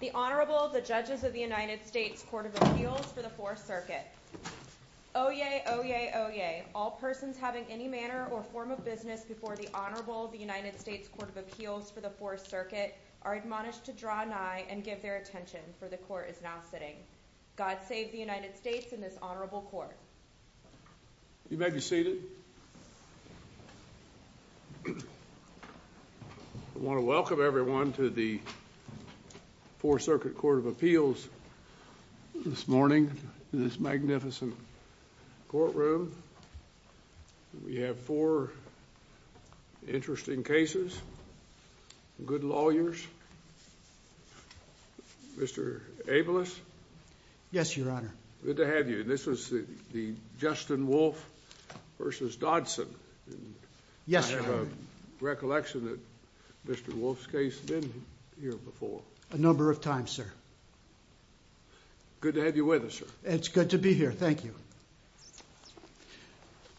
The Honorable, the Judges of the United States Court of Appeals for the 4th Circuit. Oyez, oyez, oyez. All persons having any manner or form of business before the Honorable of the United States Court of Appeals for the 4th Circuit are admonished to draw nigh and give their attention, for the Court is now sitting. God save the United States and this Honorable Court. You may be seated. I want to welcome everyone to the 4th Circuit Court of Appeals this morning in this magnificent courtroom. We have four interesting cases, good lawyers. Mr. Abeles? Yes, Your Honor. Good to have you. This is the Justin Wolfe v. Dotson. Yes, Your Honor. I have a recollection that Mr. Wolfe's case has been here before. A number of times, sir. Good to have you with us, sir. It's good to be here. Thank you.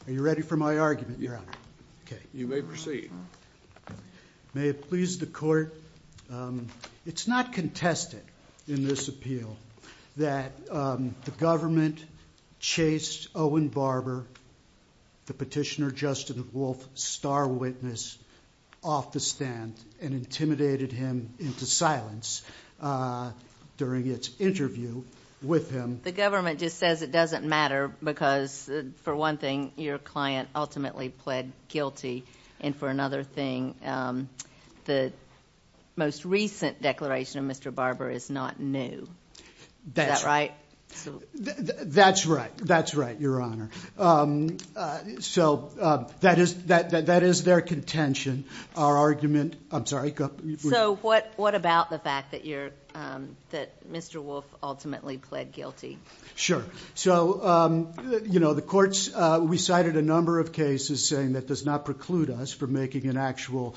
Are you ready for my argument, Your Honor? You may proceed. May it please the Court, it's not contested in this appeal that the government chased Owen Barber, the petitioner Justin Wolfe, star witness off the stand and intimidated him into silence during its interview with him. The government just says it doesn't matter because, for one thing, your client ultimately pled guilty. And for another thing, the most recent declaration of Mr. Barber is not new. Is that right? That's right. That's right, Your Honor. So that is their contention. Our argument, I'm sorry, go ahead. So what about the fact that Mr. Wolfe ultimately pled guilty? Sure. So, you know, the courts, we cited a number of cases saying that does not preclude us from making an actual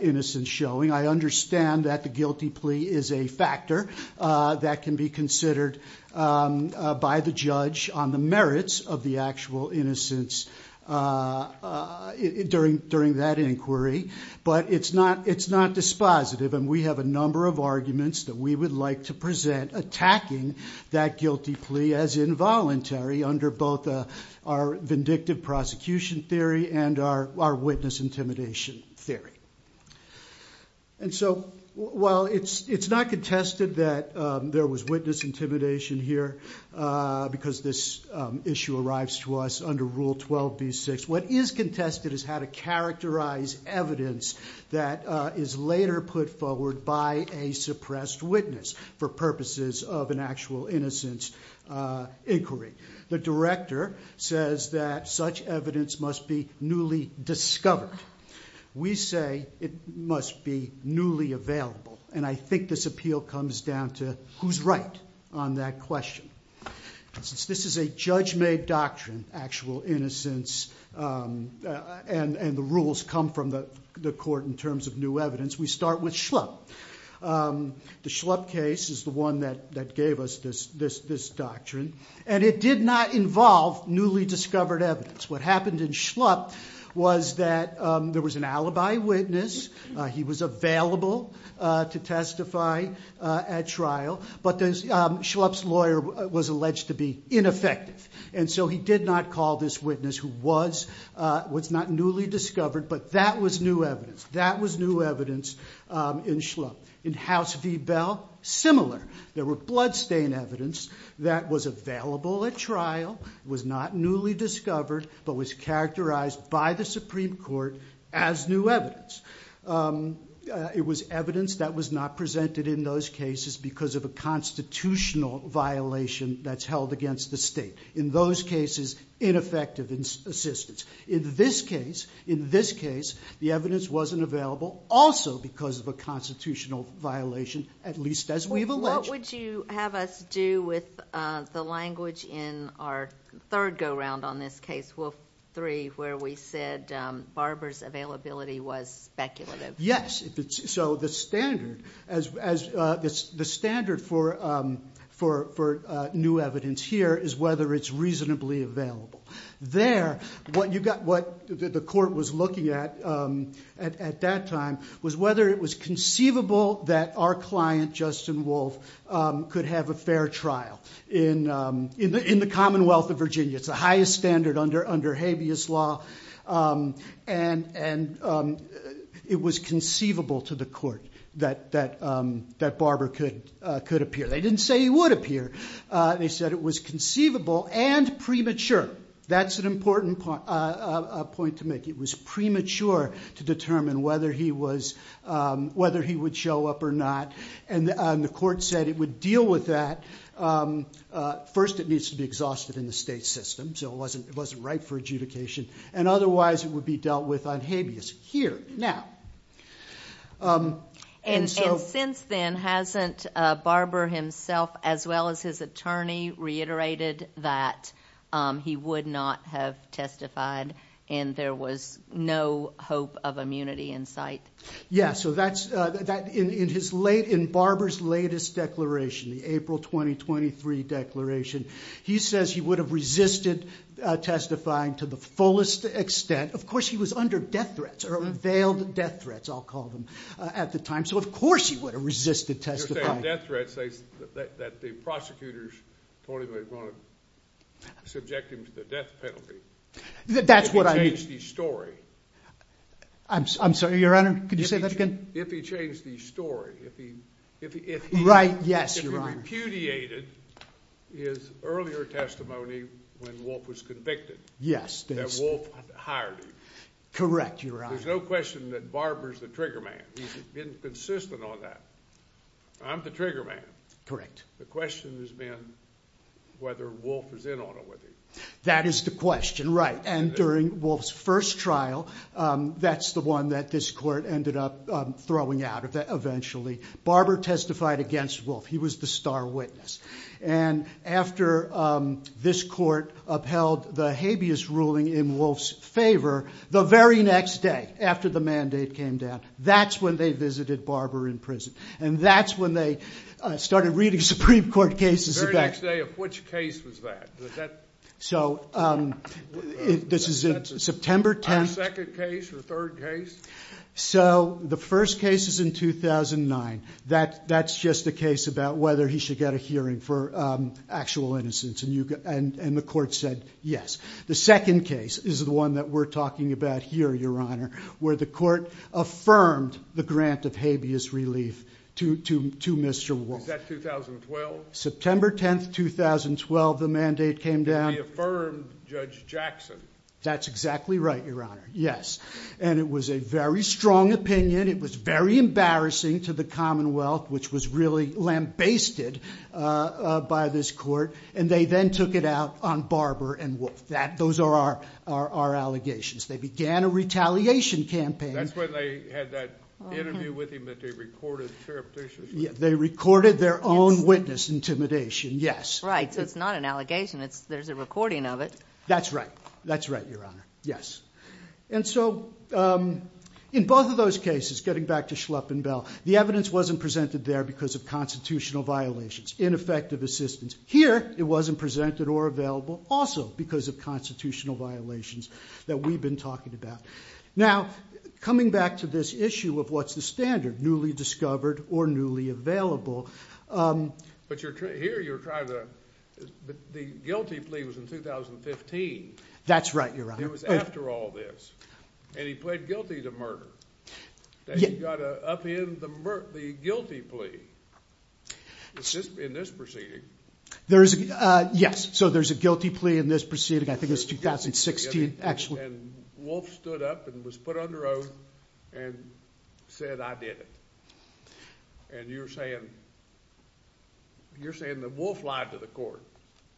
innocence showing. I understand that the guilty plea is a factor that can be considered by the judge on the merits of the actual innocence during that inquiry. But it's not dispositive, and we have a number of arguments that we would like to present attacking that guilty plea as involuntary under both our vindictive prosecution theory and our witness intimidation theory. And so while it's not contested that there was witness intimidation here because this issue arrives to us under Rule 12b-6, what is contested is how to characterize evidence that is later put forward by a suppressed witness for purposes of an actual innocence inquiry. The director says that such evidence must be newly discovered. We say it must be newly available. And I think this appeal comes down to who's right on that question. This is a judge-made doctrine, actual innocence, and the rules come from the court in terms of new evidence. We start with Schlupp. The Schlupp case is the one that gave us this doctrine, and it did not involve newly discovered evidence. What happened in Schlupp was that there was an alibi witness. He was available to testify at trial. But Schlupp's lawyer was alleged to be ineffective, and so he did not call this witness who was not newly discovered, but that was new evidence. That was new evidence in Schlupp. In House v. Bell, similar. There were bloodstain evidence that was available at trial, was not newly discovered, but was characterized by the Supreme Court as new evidence. It was evidence that was not presented in those cases because of a constitutional violation that's held against the state. In those cases, ineffective assistance. In this case, the evidence wasn't available also because of a constitutional violation, at least as we've alleged. What would you have us do with the language in our third go-round on this case, Wolf v. 3, where we said Barber's availability was speculative? Yes. The standard for new evidence here is whether it's reasonably available. There, what the court was looking at at that time was whether it was conceivable that our client, Justin Wolf, could have a fair trial in the Commonwealth of Virginia. It's the highest standard under habeas law, and it was conceivable to the court that Barber could appear. They didn't say he would appear. They said it was conceivable and premature. That's an important point to make. It was premature to determine whether he would show up or not. The court said it would deal with that. First, it needs to be exhausted in the state system, so it wasn't right for adjudication. Otherwise, it would be dealt with on habeas here, now. Since then, hasn't Barber himself, as well as his attorney, reiterated that he would not have testified and there was no hope of immunity in sight? Yes. In Barber's latest declaration, the April 2023 declaration, he says he would have resisted testifying to the fullest extent. Of course, he was under death threats or veiled death threats, I'll call them, at the time, so of course he would have resisted testifying. You're saying death threats that the prosecutors told him they were going to subject him to the death penalty. That's what I mean. If he changed his story. I'm sorry, Your Honor, could you say that again? If he changed his story. If he repudiated his earlier testimony when Wolf was convicted. Yes. That Wolf hired him. Correct, Your Honor. There's no question that Barber's the trigger man. He's been consistent on that. I'm the trigger man. Correct. The question has been whether Wolf was in on it with him. That is the question, right. And during Wolf's first trial, that's the one that this court ended up throwing out eventually. Barber testified against Wolf. He was the star witness. And after this court upheld the habeas ruling in Wolf's favor, the very next day after the mandate came down, that's when they visited Barber in prison. And that's when they started reading Supreme Court cases. The very next day of which case was that? So this is September 10th. The second case or third case? So the first case is in 2009. That's just a case about whether he should get a hearing for actual innocence. And the court said yes. The second case is the one that we're talking about here, Your Honor, where the court affirmed the grant of habeas relief to Mr. Wolf. Is that 2012? September 10th, 2012, the mandate came down. He affirmed Judge Jackson. That's exactly right, Your Honor. Yes. And it was a very strong opinion. It was very embarrassing to the Commonwealth, which was really lambasted by this court. And they then took it out on Barber and Wolf. Those are our allegations. They began a retaliation campaign. That's when they had that interview with him that they recorded, Sheriff, did you say? They recorded their own witness intimidation, yes. Right. So it's not an allegation. There's a recording of it. That's right. That's right, Your Honor, yes. And so in both of those cases, getting back to Schlepp and Bell, the evidence wasn't presented there because of constitutional violations, ineffective assistance. Here it wasn't presented or available also because of constitutional violations that we've been talking about. Now, coming back to this issue of what's the standard, newly discovered or newly available. But here you're trying to – the guilty plea was in 2015. That's right, Your Honor. It was after all this. And he pled guilty to murder. He got up in the guilty plea. It's just in this proceeding. Yes, so there's a guilty plea in this proceeding. I think it's 2016, actually. And Wolf stood up and was put on the road and said, I did it. And you're saying that Wolf lied to the court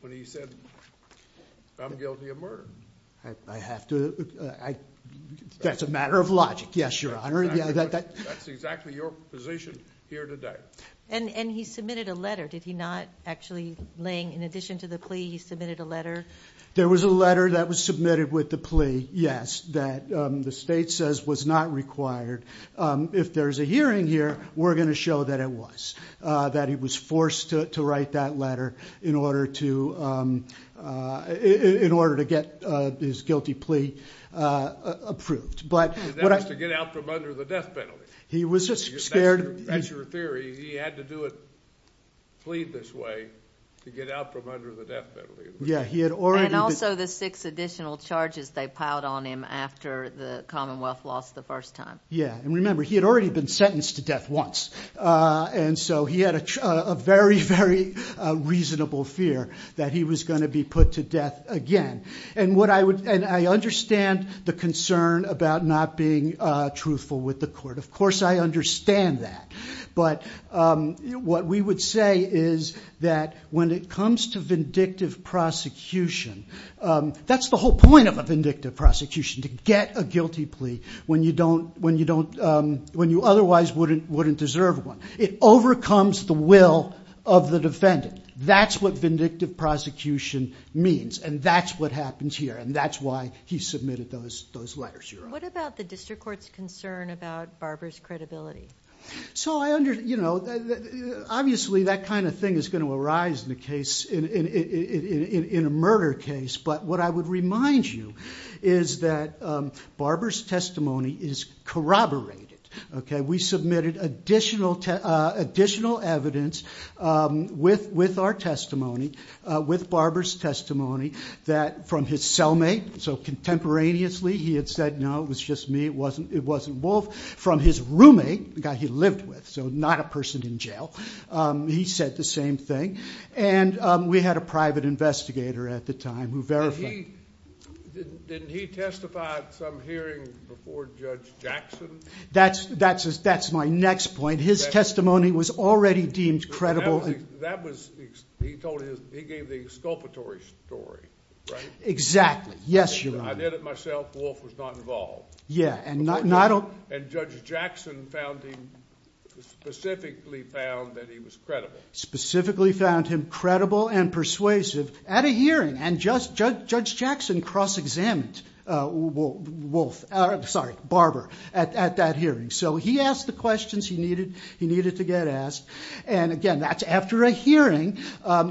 when he said, I'm guilty of murder. I have to – that's a matter of logic, yes, Your Honor. That's exactly your position here today. And he submitted a letter. Did he not actually, in addition to the plea, he submitted a letter? There was a letter that was submitted with the plea, yes, that the state says was not required. If there's a hearing here, we're going to show that it was, that he was forced to write that letter in order to get his guilty plea approved. And that was to get out from under the death penalty. He was just scared. That's your theory. He had to do a plea this way to get out from under the death penalty. Yeah, he had already been – And also the six additional charges they piled on him after the Commonwealth lost the first time. Yeah, and remember, he had already been sentenced to death once. And so he had a very, very reasonable fear that he was going to be put to death again. And I understand the concern about not being truthful with the court. Of course I understand that. But what we would say is that when it comes to vindictive prosecution, that's the whole point of a vindictive prosecution, to get a guilty plea when you otherwise wouldn't deserve one. It overcomes the will of the defendant. That's what vindictive prosecution means. And that's what happens here. And that's why he submitted those letters. What about the district court's concern about Barber's credibility? So I understand, you know, obviously that kind of thing is going to arise in a murder case. But what I would remind you is that Barber's testimony is corroborated. We submitted additional evidence with our testimony, with Barber's testimony, that from his cellmate, so contemporaneously he had said, no, it was just me, it wasn't Wolf. From his roommate, the guy he lived with, so not a person in jail, he said the same thing. And we had a private investigator at the time who verified. Didn't he testify at some hearing before Judge Jackson? That's my next point. His testimony was already deemed credible. He gave the exculpatory story, right? Exactly. Yes, Your Honor. I did it myself. Wolf was not involved. Yeah. And Judge Jackson specifically found that he was credible. Specifically found him credible and persuasive at a hearing. And Judge Jackson cross-examined Barber at that hearing. So he asked the questions he needed to get asked. And, again, that's after a hearing.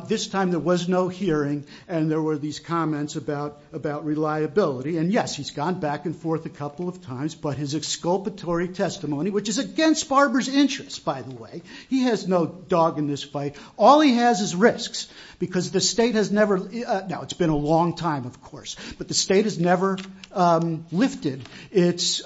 This time there was no hearing, and there were these comments about reliability. And, yes, he's gone back and forth a couple of times. But his exculpatory testimony, which is against Barber's interests, by the way. He has no dog in this fight. All he has is risks. Because the state has never ‑‑ now, it's been a long time, of course. But the state has never lifted its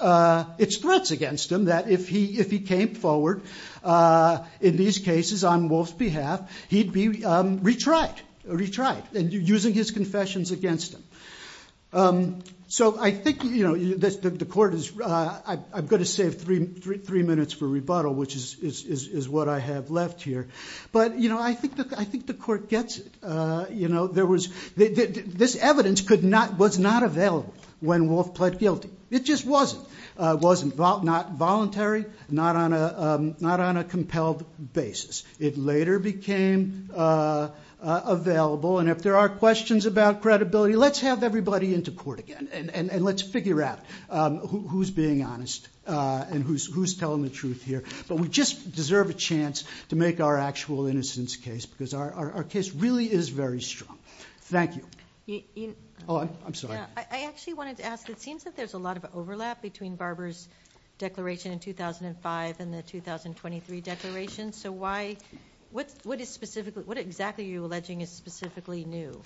threats against him. That if he came forward in these cases on Wolf's behalf, he'd be retried. Retried. And using his confessions against him. So I think, you know, the court is ‑‑ I've got to save three minutes for rebuttal, which is what I have left here. But, you know, I think the court gets it. You know, there was ‑‑ this evidence was not available when Wolf pled guilty. It just wasn't. It was not voluntary. Not on a compelled basis. It later became available. And if there are questions about credibility, let's have everybody into court again. And let's figure out who's being honest. And who's telling the truth here. But we just deserve a chance to make our actual innocence case. Because our case really is very strong. Thank you. Oh, I'm sorry. I actually wanted to ask, it seems that there's a lot of overlap between Barber's declaration in 2005 and the 2023 declaration. So why ‑‑ what is specifically ‑‑ what exactly are you alleging is specifically new?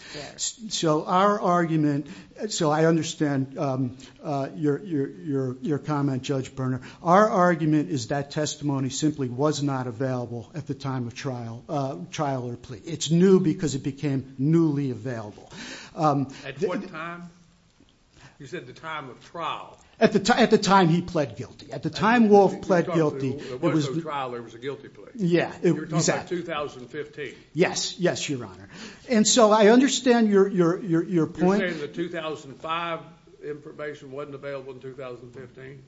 So our argument ‑‑ so I understand your comment, Judge Berner. Our argument is that testimony simply was not available at the time of trial or plea. It's new because it became newly available. At what time? You said the time of trial. At the time he pled guilty. At the time Wolf pled guilty. It wasn't a trial. It was a guilty plea. You're talking about 2015. Yes. Yes, Your Honor. And so I understand your point. You're saying the 2005 information wasn't available in 2015?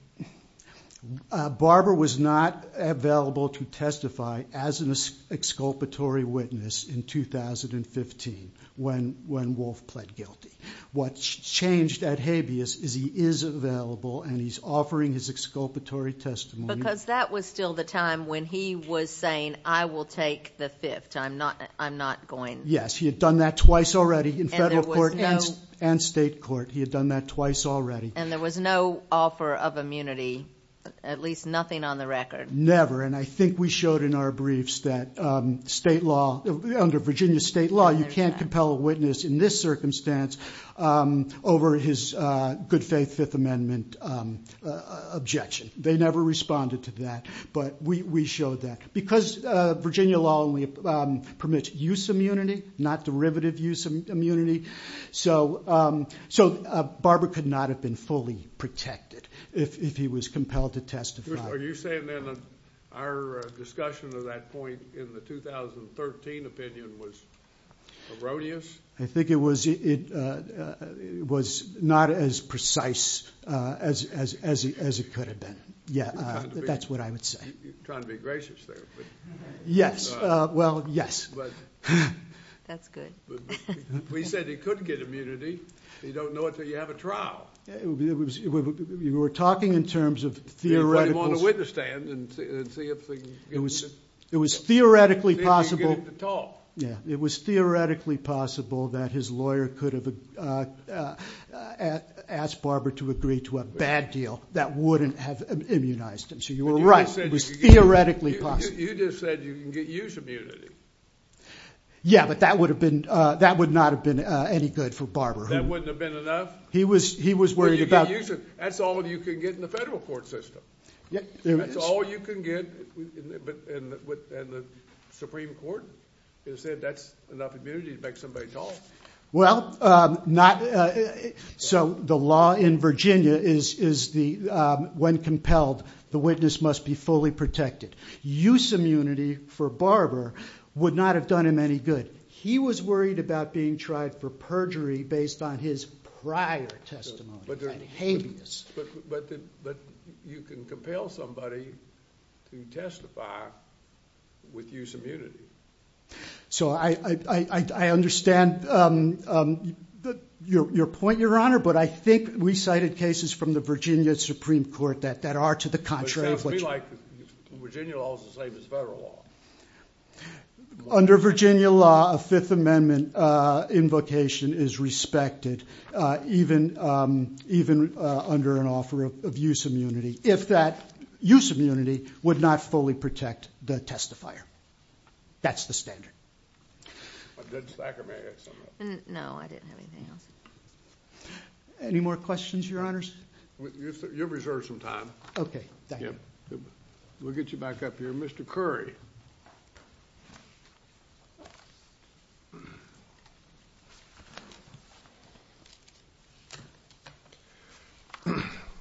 Barber was not available to testify as an exculpatory witness in 2015 when Wolf pled guilty. What's changed at habeas is he is available and he's offering his exculpatory testimony. Because that was still the time when he was saying, I will take the Fifth. I'm not going ‑‑ Yes, he had done that twice already in federal court and state court. He had done that twice already. And there was no offer of immunity, at least nothing on the record. Never, and I think we showed in our briefs that state law, under Virginia state law, you can't compel a witness in this circumstance over his good faith Fifth Amendment objection. They never responded to that, but we showed that. Because Virginia law only permits use immunity, not derivative use immunity. So Barber could not have been fully protected if he was compelled to testify. Are you saying then our discussion of that point in the 2013 opinion was erroneous? I think it was not as precise as it could have been. Yeah, that's what I would say. You're trying to be gracious there. Yes, well, yes. That's good. We said he could get immunity. You don't know until you have a trial. We were talking in terms of theoretical ‑‑ Put him on the witness stand and see if they can get him to talk. Yeah, it was theoretically possible that his lawyer could have asked Barber to agree to a bad deal that wouldn't have immunized him, so you were right. It was theoretically possible. You just said you can get use immunity. Yeah, but that would not have been any good for Barber. That wouldn't have been enough? He was worried about ‑‑ That's all you can get in the federal court system. That's all you can get in the Supreme Court? You're saying that's enough immunity to make somebody talk? Well, not ‑‑ so the law in Virginia is when compelled, the witness must be fully protected. Use immunity for Barber would not have done him any good. He was worried about being tried for perjury based on his prior testimony, like habeas. But you can compel somebody to testify with use immunity. So I understand your point, Your Honor, but I think we cited cases from the Virginia Supreme Court that are to the contrary. It sounds to me like Virginia law is the same as federal law. Under Virginia law, a Fifth Amendment invocation is respected, even under an offer of use immunity, if that use immunity would not fully protect the testifier. That's the standard. Any more questions, Your Honors? You have reserved some time. Okay, thank you. We'll get you back up here. Mr. Curry.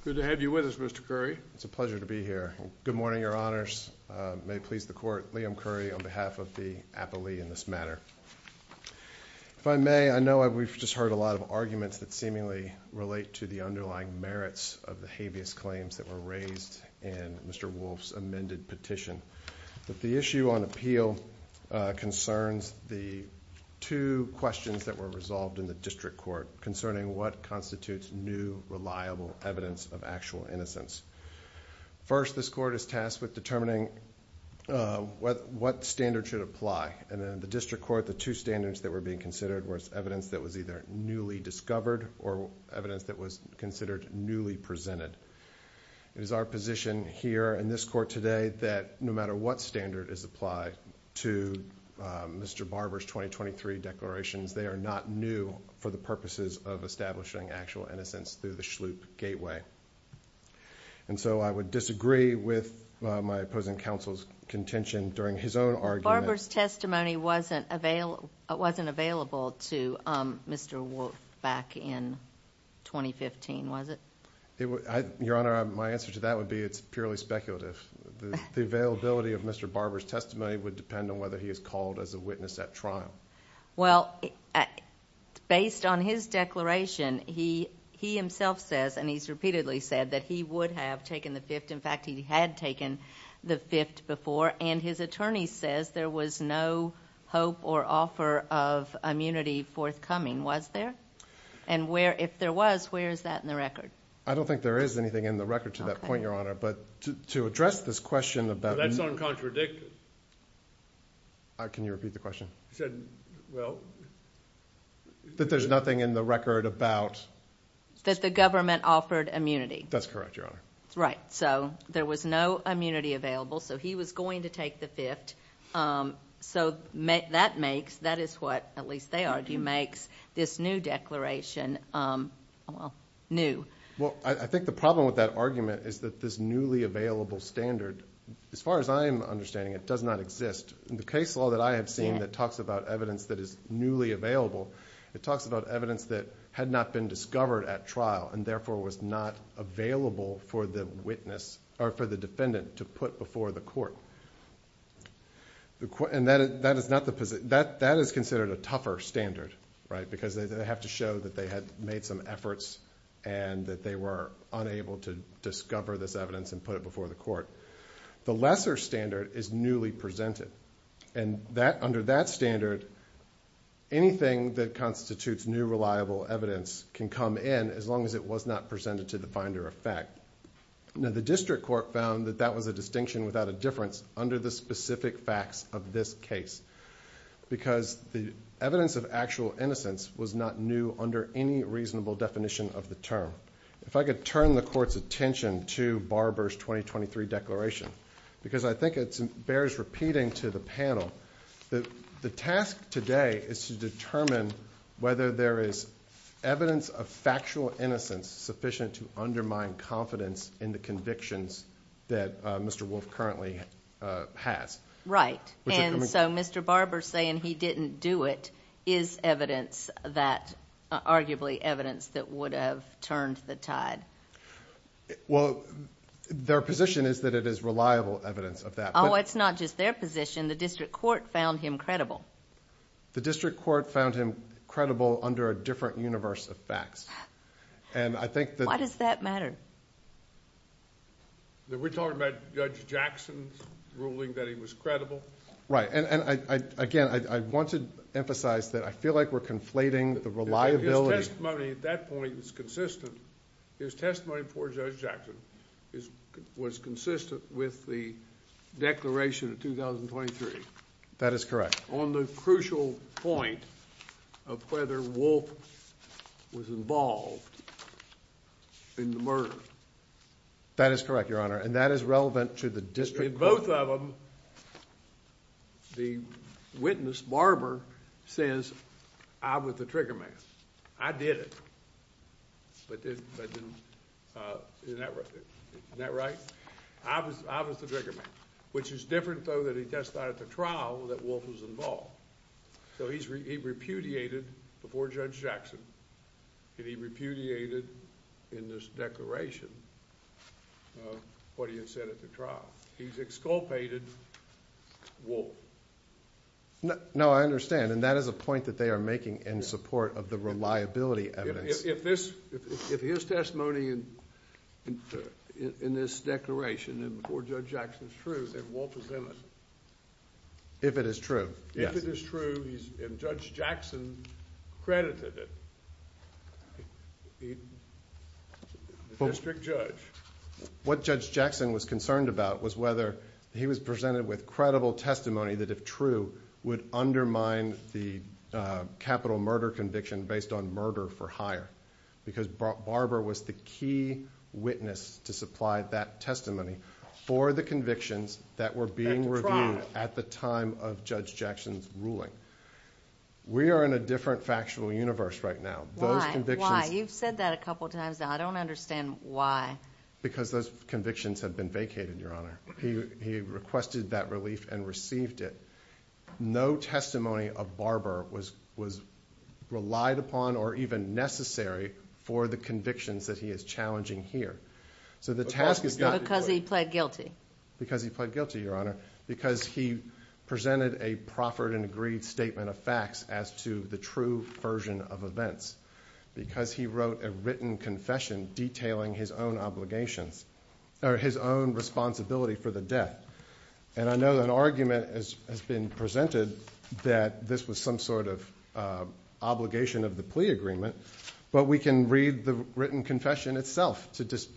Good to have you with us, Mr. Curry. It's a pleasure to be here. Good morning, Your Honors. May it please the Court, Liam Curry on behalf of the appellee in this matter. If I may, I know we've just heard a lot of arguments that seemingly relate to the underlying merits of the habeas claims that were raised in Mr. Wolf's amended petition. The issue on appeal concerns the two questions that were resolved in the district court concerning what constitutes new, reliable evidence of actual innocence. First, this court is tasked with determining what standard should apply. And in the district court, the two standards that were being considered were evidence that was either newly discovered or evidence that was considered newly presented. It is our position here in this court today that no matter what standard is applied to Mr. Barber's 2023 declarations, they are not new for the purposes of establishing actual innocence through the Shloop Gateway. And so I would disagree with my opposing counsel's contention during his own argument. Mr. Barber's testimony wasn't available to Mr. Wolf back in 2015, was it? Your Honor, my answer to that would be it's purely speculative. The availability of Mr. Barber's testimony would depend on whether he is called as a witness at trial. Well, based on his declaration, he himself says, and he's repeatedly said, that he would have taken the Fifth. In fact, he had taken the Fifth before. And his attorney says there was no hope or offer of immunity forthcoming. Was there? And if there was, where is that in the record? I don't think there is anything in the record to that point, Your Honor. But to address this question about – That's uncontradictive. Can you repeat the question? He said, well – That there's nothing in the record about – That the government offered immunity. That's correct, Your Honor. Right. So there was no immunity available, so he was going to take the Fifth. So that makes – that is what, at least they argue, makes this new declaration new. Well, I think the problem with that argument is that this newly available standard, as far as I am understanding, it does not exist. The case law that I have seen that talks about evidence that is newly available, it talks about evidence that had not been discovered at trial, and therefore was not available for the witness – or for the defendant to put before the court. And that is not the – that is considered a tougher standard, right, because they have to show that they had made some efforts and that they were unable to discover this evidence and put it before the court. The lesser standard is newly presented. And that – under that standard, anything that constitutes new reliable evidence can come in as long as it was not presented to the finder of fact. Now, the district court found that that was a distinction without a difference under the specific facts of this case because the evidence of actual innocence was not new under any reasonable definition of the term. If I could turn the court's attention to Barber's 2023 declaration, because I think it bears repeating to the panel, the task today is to determine whether there is evidence of factual innocence sufficient to undermine confidence in the convictions that Mr. Wolf currently has. Right. And so Mr. Barber saying he didn't do it is evidence that – arguably evidence that would have turned the tide. Well, their position is that it is reliable evidence of that. Oh, it's not just their position. The district court found him credible. The district court found him credible under a different universe of facts. Why does that matter? We're talking about Judge Jackson's ruling that he was credible? Right. And again, I want to emphasize that I feel like we're conflating the reliability. His testimony at that point is consistent. His testimony before Judge Jackson was consistent with the declaration of 2023. That is correct. On the crucial point of whether Wolf was involved in the murder. That is correct, Your Honor, and that is relevant to the district court. In both of them, the witness, Barber, says I was the trigger man. I did it, but didn't – isn't that right? I was the trigger man, which is different, though, that he testified at the trial that Wolf was involved. So he repudiated before Judge Jackson, and he repudiated in this declaration what he had said at the trial. He's exculpated Wolf. No, I understand, and that is a point that they are making in support of the reliability evidence. If his testimony in this declaration and before Judge Jackson is true, then Wolf is in it. If it is true, yes. If it is true and Judge Jackson credited it, the district judge. What Judge Jackson was concerned about was whether he was presented with credible testimony that, if true, would undermine the capital murder conviction based on murder for hire because Barber was the key witness to supply that testimony for the convictions that were being reviewed at the time of Judge Jackson's ruling. We are in a different factual universe right now. Why? Why? You've said that a couple of times now. I don't understand why. Because those convictions have been vacated, Your Honor. He requested that relief and received it. No testimony of Barber was relied upon or even necessary for the convictions that he is challenging here. Because he pled guilty. Because he pled guilty, Your Honor. Because he presented a proffered and agreed statement of facts as to the true version of events. Because he wrote a written confession detailing his own obligations or his own responsibility for the death. I know an argument has been presented that this was some sort of obligation of the plea agreement, but we can read the written confession itself to cast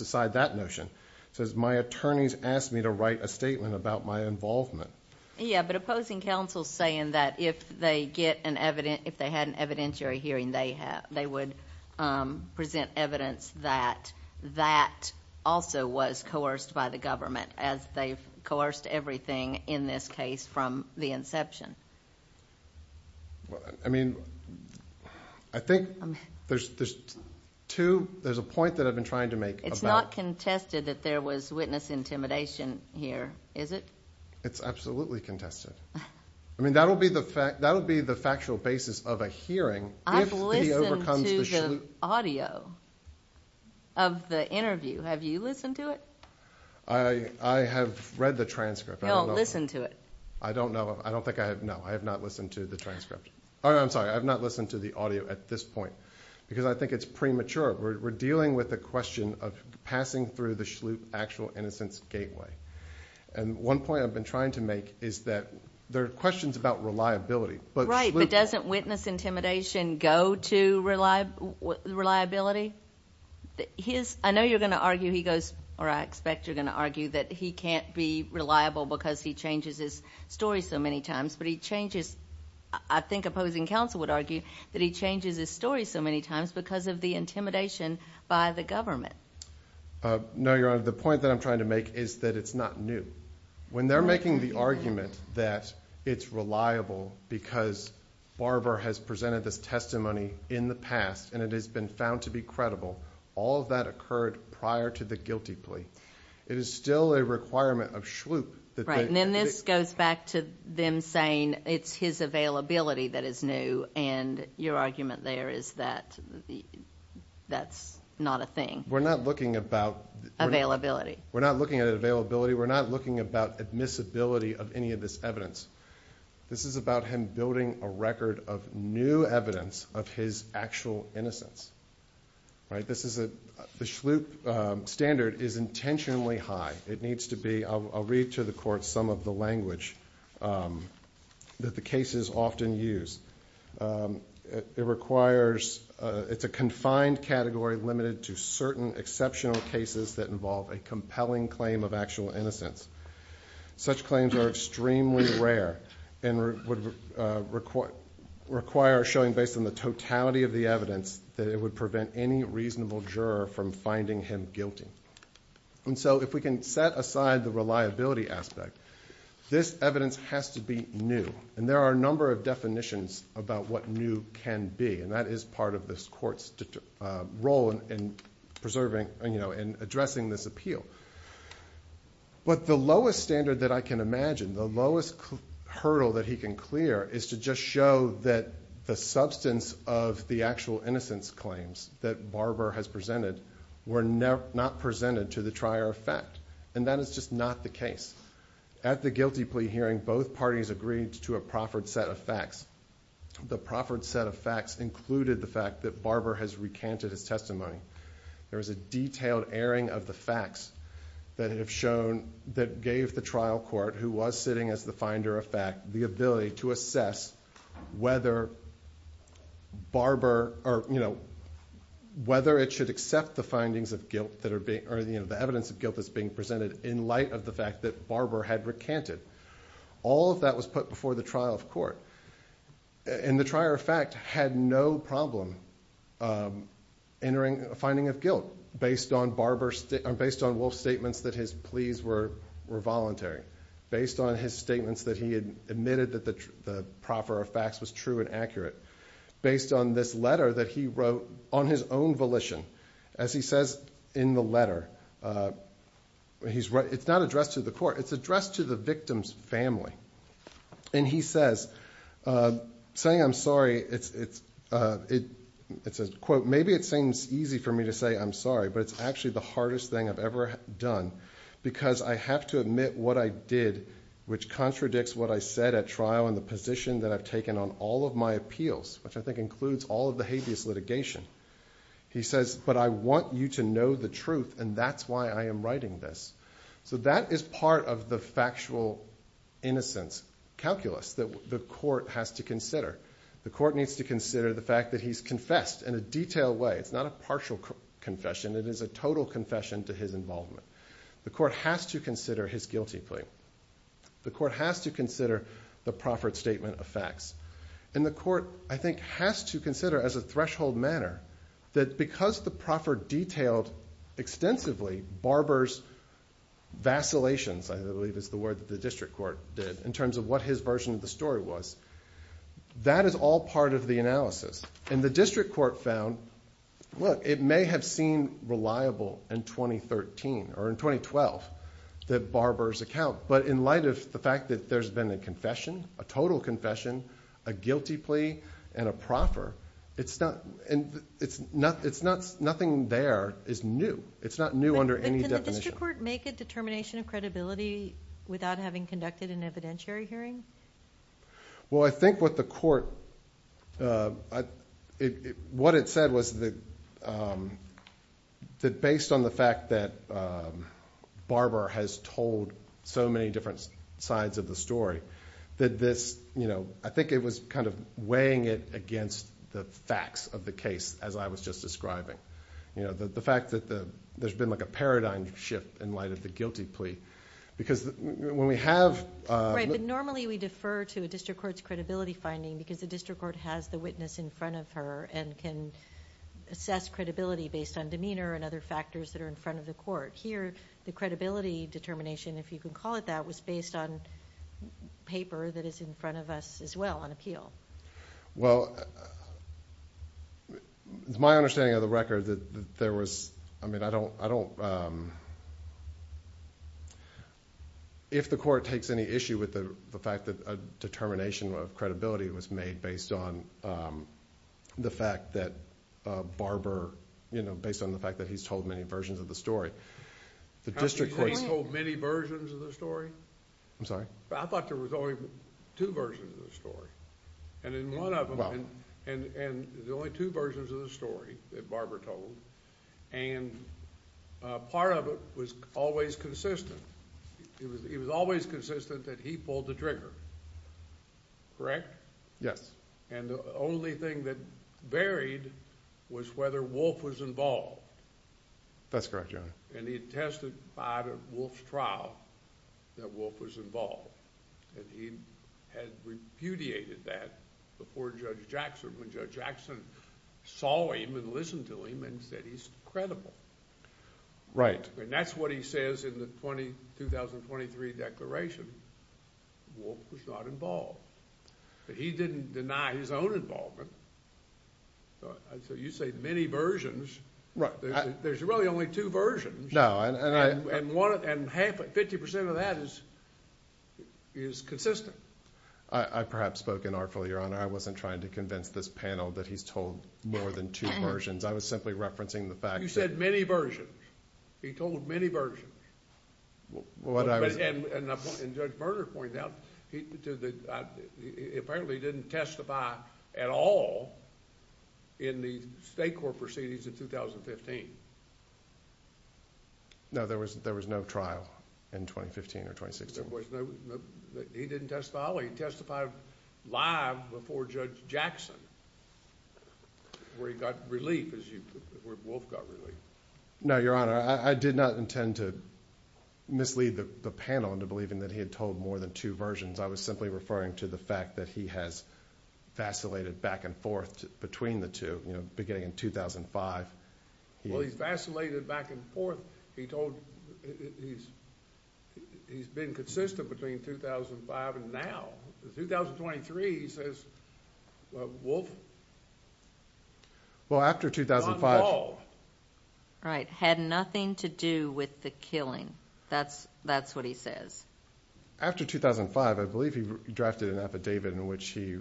aside that notion. It says, my attorneys asked me to write a statement about my involvement. Yeah, but opposing counsel is saying that if they had an evidentiary hearing, they would present evidence that that also was coerced by the government as they've coerced everything in this case from the inception. I mean, I think there's two... there's a point that I've been trying to make about... It's not contested that there was witness intimidation here, is it? It's absolutely contested. I mean, that'll be the factual basis of a hearing if he overcomes the... I've listened to the audio of the interview. Have you listened to it? I have read the transcript. No, listen to it. I don't know. I don't think I have. No, I have not listened to the transcript. I'm sorry, I have not listened to the audio at this point because I think it's premature. We're dealing with the question of passing through the Schlup actual innocence gateway. And one point I've been trying to make is that there are questions about reliability. Right, but doesn't witness intimidation go to reliability? I know you're going to argue he goes... or I expect you're going to argue that he can't be reliable because he changes his story so many times, but he changes... I think opposing counsel would argue that he changes his story so many times because of the intimidation by the government. No, Your Honor, the point that I'm trying to make is that it's not new. When they're making the argument that it's reliable because Barber has presented this testimony in the past and it has been found to be credible, all of that occurred prior to the guilty plea. It is still a requirement of Schlup that they... Right, and then this goes back to them saying it's his availability that is new, and your argument there is that that's not a thing. We're not looking about... Availability. We're not looking at availability. We're not looking about admissibility of any of this evidence. This is about him building a record of new evidence of his actual innocence. This is a... the Schlup standard is intentionally high. It needs to be... I'll read to the Court some of the language that the cases often use. It requires... it's a confined category limited to certain exceptional cases that involve a compelling claim of actual innocence. Such claims are extremely rare and would require a showing based on the totality of the evidence that it would prevent any reasonable juror from finding him guilty. And so if we can set aside the reliability aspect, this evidence has to be new, and there are a number of definitions about what new can be, and that is part of this Court's role in preserving and addressing this appeal. But the lowest standard that I can imagine, the lowest hurdle that he can clear, is to just show that the substance of the actual innocence claims that Barber has presented were not presented to the trier of fact, and that is just not the case. At the guilty plea hearing, both parties agreed to a proffered set of facts. The proffered set of facts included the fact that Barber has recanted his testimony. There was a detailed airing of the facts that have shown... that gave the trial court, who was sitting as the finder of fact, the ability to assess whether Barber... or whether it should accept the findings of guilt that are being... or the evidence of guilt that's being presented in light of the fact that Barber had recanted. All of that was put before the trial of court. And the trier of fact had no problem entering a finding of guilt, based on Barber's... based on Wolf's statements that his pleas were voluntary, based on his statements that he had admitted that the proffer of facts was true and accurate, based on this letter that he wrote on his own volition. As he says in the letter, he's... it's not addressed to the court. It's addressed to the victim's family. And he says, saying I'm sorry, it's... it's a quote. Maybe it seems easy for me to say I'm sorry, but it's actually the hardest thing I've ever done, because I have to admit what I did, which contradicts what I said at trial... and the position that I've taken on all of my appeals, which I think includes all of the habeas litigation. He says, but I want you to know the truth, and that's why I am writing this. So that is part of the factual innocence calculus that the court has to consider. The court needs to consider the fact that he's confessed in a detailed way. It's not a partial confession. It is a total confession to his involvement. The court has to consider his guilty plea. The court has to consider the proffered statement of facts. And the court, I think, has to consider, as a threshold manner, that because the proffer detailed extensively Barber's vacillations, I believe is the word that the district court did, in terms of what his version of the story was, that is all part of the analysis. And the district court found, look, it may have seemed reliable in 2013, or in 2012, that Barber's account, but in light of the fact that there's been a confession, a total confession, a guilty plea, and a proffer, nothing there is new. It's not new under any definition. But can the district court make a determination of credibility without having conducted an evidentiary hearing? Well, I think what the court, what it said was that based on the fact that Barber has told so many different sides of the story, that this, you know, I think it was kind of weighing it against the facts of the case, as I was just describing. You know, the fact that there's been like a paradigm shift in light of the guilty plea. Because when we have... Right, but normally we defer to a district court's credibility finding because the district court has the witness in front of her and can assess credibility based on demeanor and other factors that are in front of the court. Here, the credibility determination, if you can call it that, was based on paper that is in front of us as well, on appeal. Well, it's my understanding of the record that there was... I mean, I don't... If the court takes any issue with the fact that a determination of credibility was made based on the fact that Barber, you know, based on the fact that he's told many versions of the story, the district court's... How did he say he told many versions of the story? I'm sorry? I thought there was only two versions of the story. And in one of them... And there's only two versions of the story that Barber told. And part of it was always consistent. It was always consistent that he pulled the trigger. Correct? Yes. And the only thing that varied was whether Wolfe was involved. That's correct, Your Honor. And he had testified at Wolfe's trial that Wolfe was involved. And he had repudiated that before Judge Jackson, when Judge Jackson saw him and listened to him and said he's credible. Right. And that's what he says in the 2023 declaration. Wolfe was not involved. But he didn't deny his own involvement. So you say many versions. Right. There's really only two versions. No, and I... And 50% of that is consistent. I perhaps spoke inartful, Your Honor. I wasn't trying to convince this panel that he's told more than two versions. I was simply referencing the fact that... You said many versions. He told many versions. What I was... And Judge Berger pointed out, apparently he didn't testify at all in the state court proceedings in 2015. No, there was no trial in 2015 or 2016. There was no... He didn't testify at all. He testified live before Judge Jackson, where he got relief, as you... where Wolfe got relief. No, Your Honor. I did not intend to mislead the panel into believing that he had told more than two versions. I was simply referring to the fact that he has vacillated back and forth between the two, beginning in 2005. Well, he's vacillated back and forth. He told... He's been consistent between 2005 and now. In 2023, he says Wolfe... Well, after 2005... Right. Had nothing to do with the killing. That's what he says. After 2005, I believe he drafted an affidavit in which he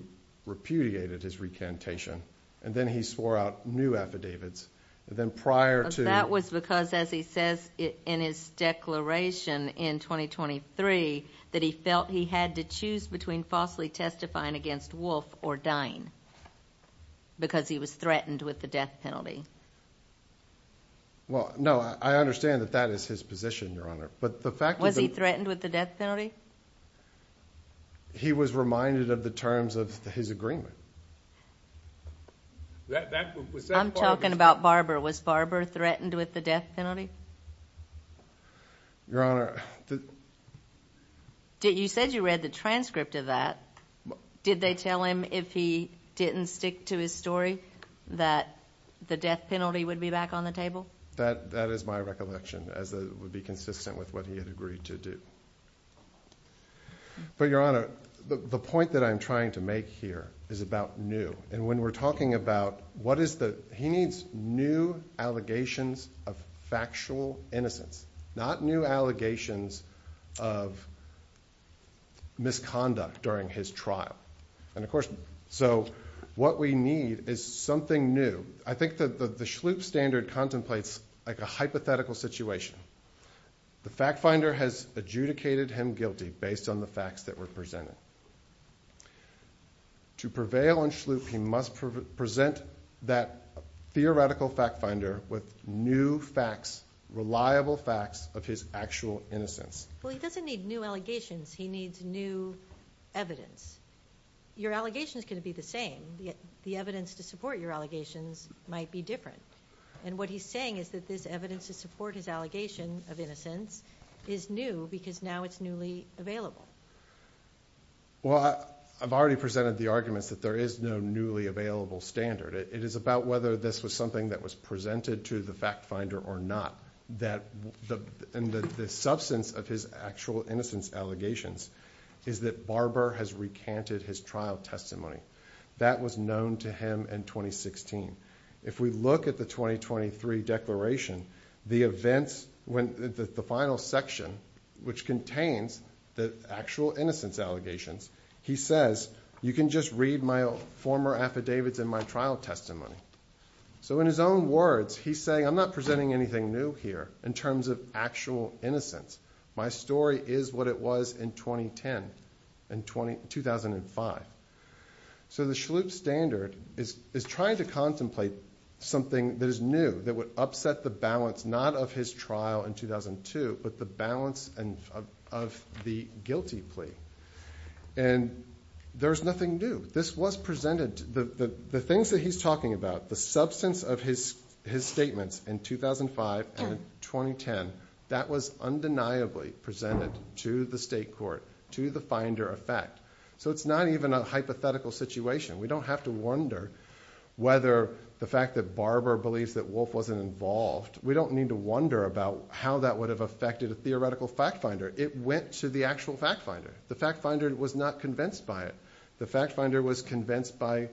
repudiated his recantation. And then he swore out new affidavits. And then prior to... That was because, as he says in his declaration in 2023, that he felt he had to choose between falsely testifying against Wolfe or dying, because he was threatened with the death penalty. Well, no, I understand that that is his position, Your Honor. But the fact that... Was he threatened with the death penalty? He was reminded of the terms of his agreement. That... I'm talking about Barber. Was Barber threatened with the death penalty? Your Honor... You said you read the transcript of that. Did they tell him if he didn't stick to his story that the death penalty would be back on the table? That is my recollection, as it would be consistent with what he had agreed to do. But, Your Honor, the point that I'm trying to make here is about new. And when we're talking about what is the... He needs new allegations of factual innocence, not new allegations of misconduct during his trial. And, of course, so what we need is something new. I think that the Schlupe standard contemplates like a hypothetical situation. The fact finder has adjudicated him guilty based on the facts that were presented. To prevail on Schlupe, he must present that theoretical fact finder with new facts, reliable facts of his actual innocence. Well, he doesn't need new allegations. He needs new evidence. Your allegations can be the same. The evidence to support your allegations might be different. And what he's saying is that this evidence to support his allegation of innocence is new because now it's newly available. Well, I've already presented the arguments that there is no newly available standard. It is about whether this was something that was presented to the fact finder or not. And the substance of his actual innocence allegations is that Barber has recanted his trial testimony. That was known to him in 2016. If we look at the 2023 declaration, the events, the final section, which contains the actual innocence allegations, he says you can just read my former affidavits in my trial testimony. So in his own words, he's saying I'm not presenting anything new here in terms of actual innocence. My story is what it was in 2010, in 2005. So the Schlup standard is trying to contemplate something that is new that would upset the balance, not of his trial in 2002, but the balance of the guilty plea. And there's nothing new. This was presented. The things that he's talking about, the substance of his statements in 2005 and in 2010, that was undeniably presented to the state court, to the finder effect. So it's not even a hypothetical situation. We don't have to wonder whether the fact that Barber believes that Wolfe wasn't involved, we don't need to wonder about how that would have affected a theoretical fact finder. It went to the actual fact finder. The fact finder was not convinced by it. The fact finder was convinced by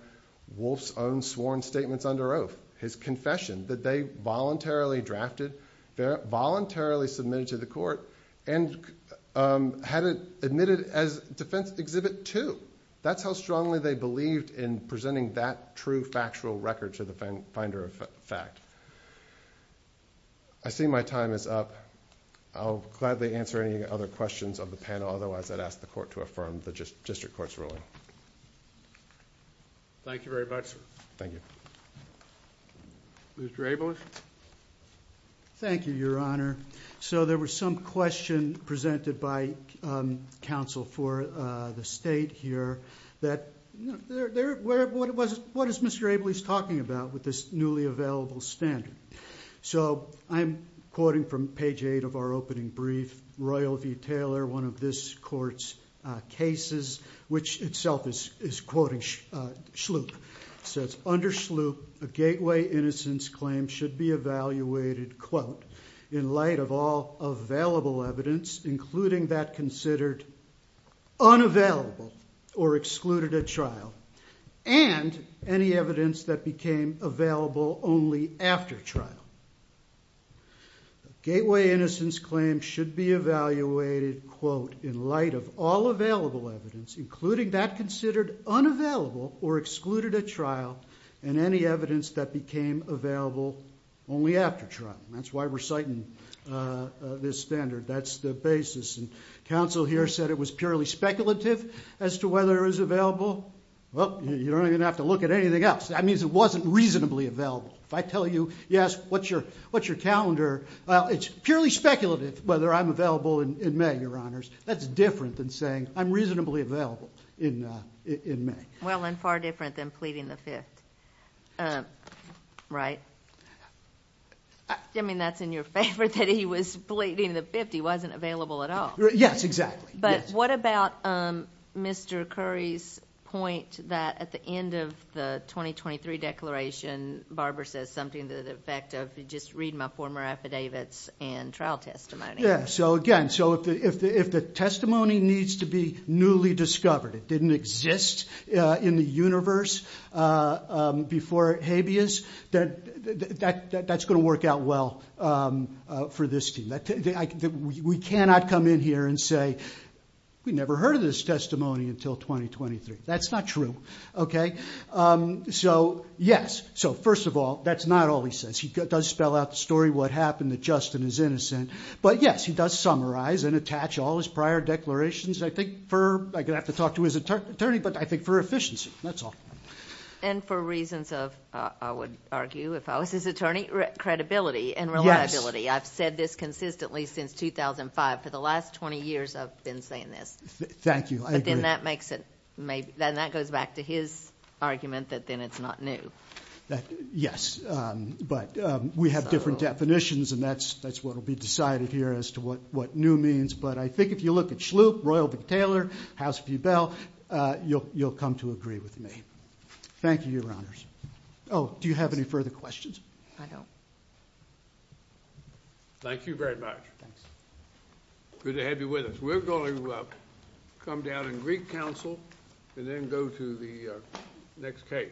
Wolfe's own sworn statements under oath, his confession, that they voluntarily drafted, voluntarily submitted to the court, and had it admitted as defense exhibit two. That's how strongly they believed in presenting that true factual record to the finder effect. I see my time is up. I'll gladly answer any other questions of the panel. Otherwise, I'd ask the court to affirm the district court's ruling. Thank you very much, sir. Thank you. Mr. Abeles? Thank you, Your Honor. So there was some question presented by counsel for the state here. What is Mr. Abeles talking about with this newly available standard? So I'm quoting from page eight of our opening brief, Royal v. Taylor, one of this court's cases, which itself is quoting Sloop. It says, under Sloop, a gateway innocence claim should be evaluated, quote, in light of all available evidence including that considered unavailable or excluded at trial and any evidence that became available only after trial. The gateway innocence claim should be evaluated, quote, in light of all available evidence including that considered unavailable or excluded at trial and any evidence that became available only after trial. That's why we're citing this standard. That's the basis. And counsel here said it was purely speculative as to whether it was available. Well, you don't even have to look at anything else. That means it wasn't reasonably available. If I tell you, yes, what's your calendar? Well, it's purely speculative whether I'm available in May, Your Honors. That's different than saying I'm reasonably available in May. Well, and far different than pleading the fifth, right? I mean, that's in your favor that he was pleading the fifth. He wasn't available at all. Yes, exactly. But what about Mr. Curry's point that at the end of the 2023 declaration, Barbara says something to the effect of just read my former affidavits and trial testimony. So, again, if the testimony needs to be newly discovered, it didn't exist in the universe before habeas, that's going to work out well for this team. We cannot come in here and say we never heard of this testimony until 2023. That's not true, okay? So, yes, so first of all, that's not all he says. He does spell out the story, what happened, that Justin is innocent. But, yes, he does summarize and attach all his prior declarations. I could have to talk to his attorney, but I think for efficiency, that's all. And for reasons of, I would argue, if I was his attorney, credibility and reliability. Yes. I've said this consistently since 2005. For the last 20 years, I've been saying this. Thank you. I agree. And that goes back to his argument that then it's not new. Yes, but we have different definitions, and that's what will be decided here as to what new means. But I think if you look at Schlup, Royal v. Taylor, House v. Bell, you'll come to agree with me. Thank you, Your Honors. Oh, do you have any further questions? I don't. Thank you very much. Thanks. Good to have you with us. We're going to come down in Greek Council and then go to the next case.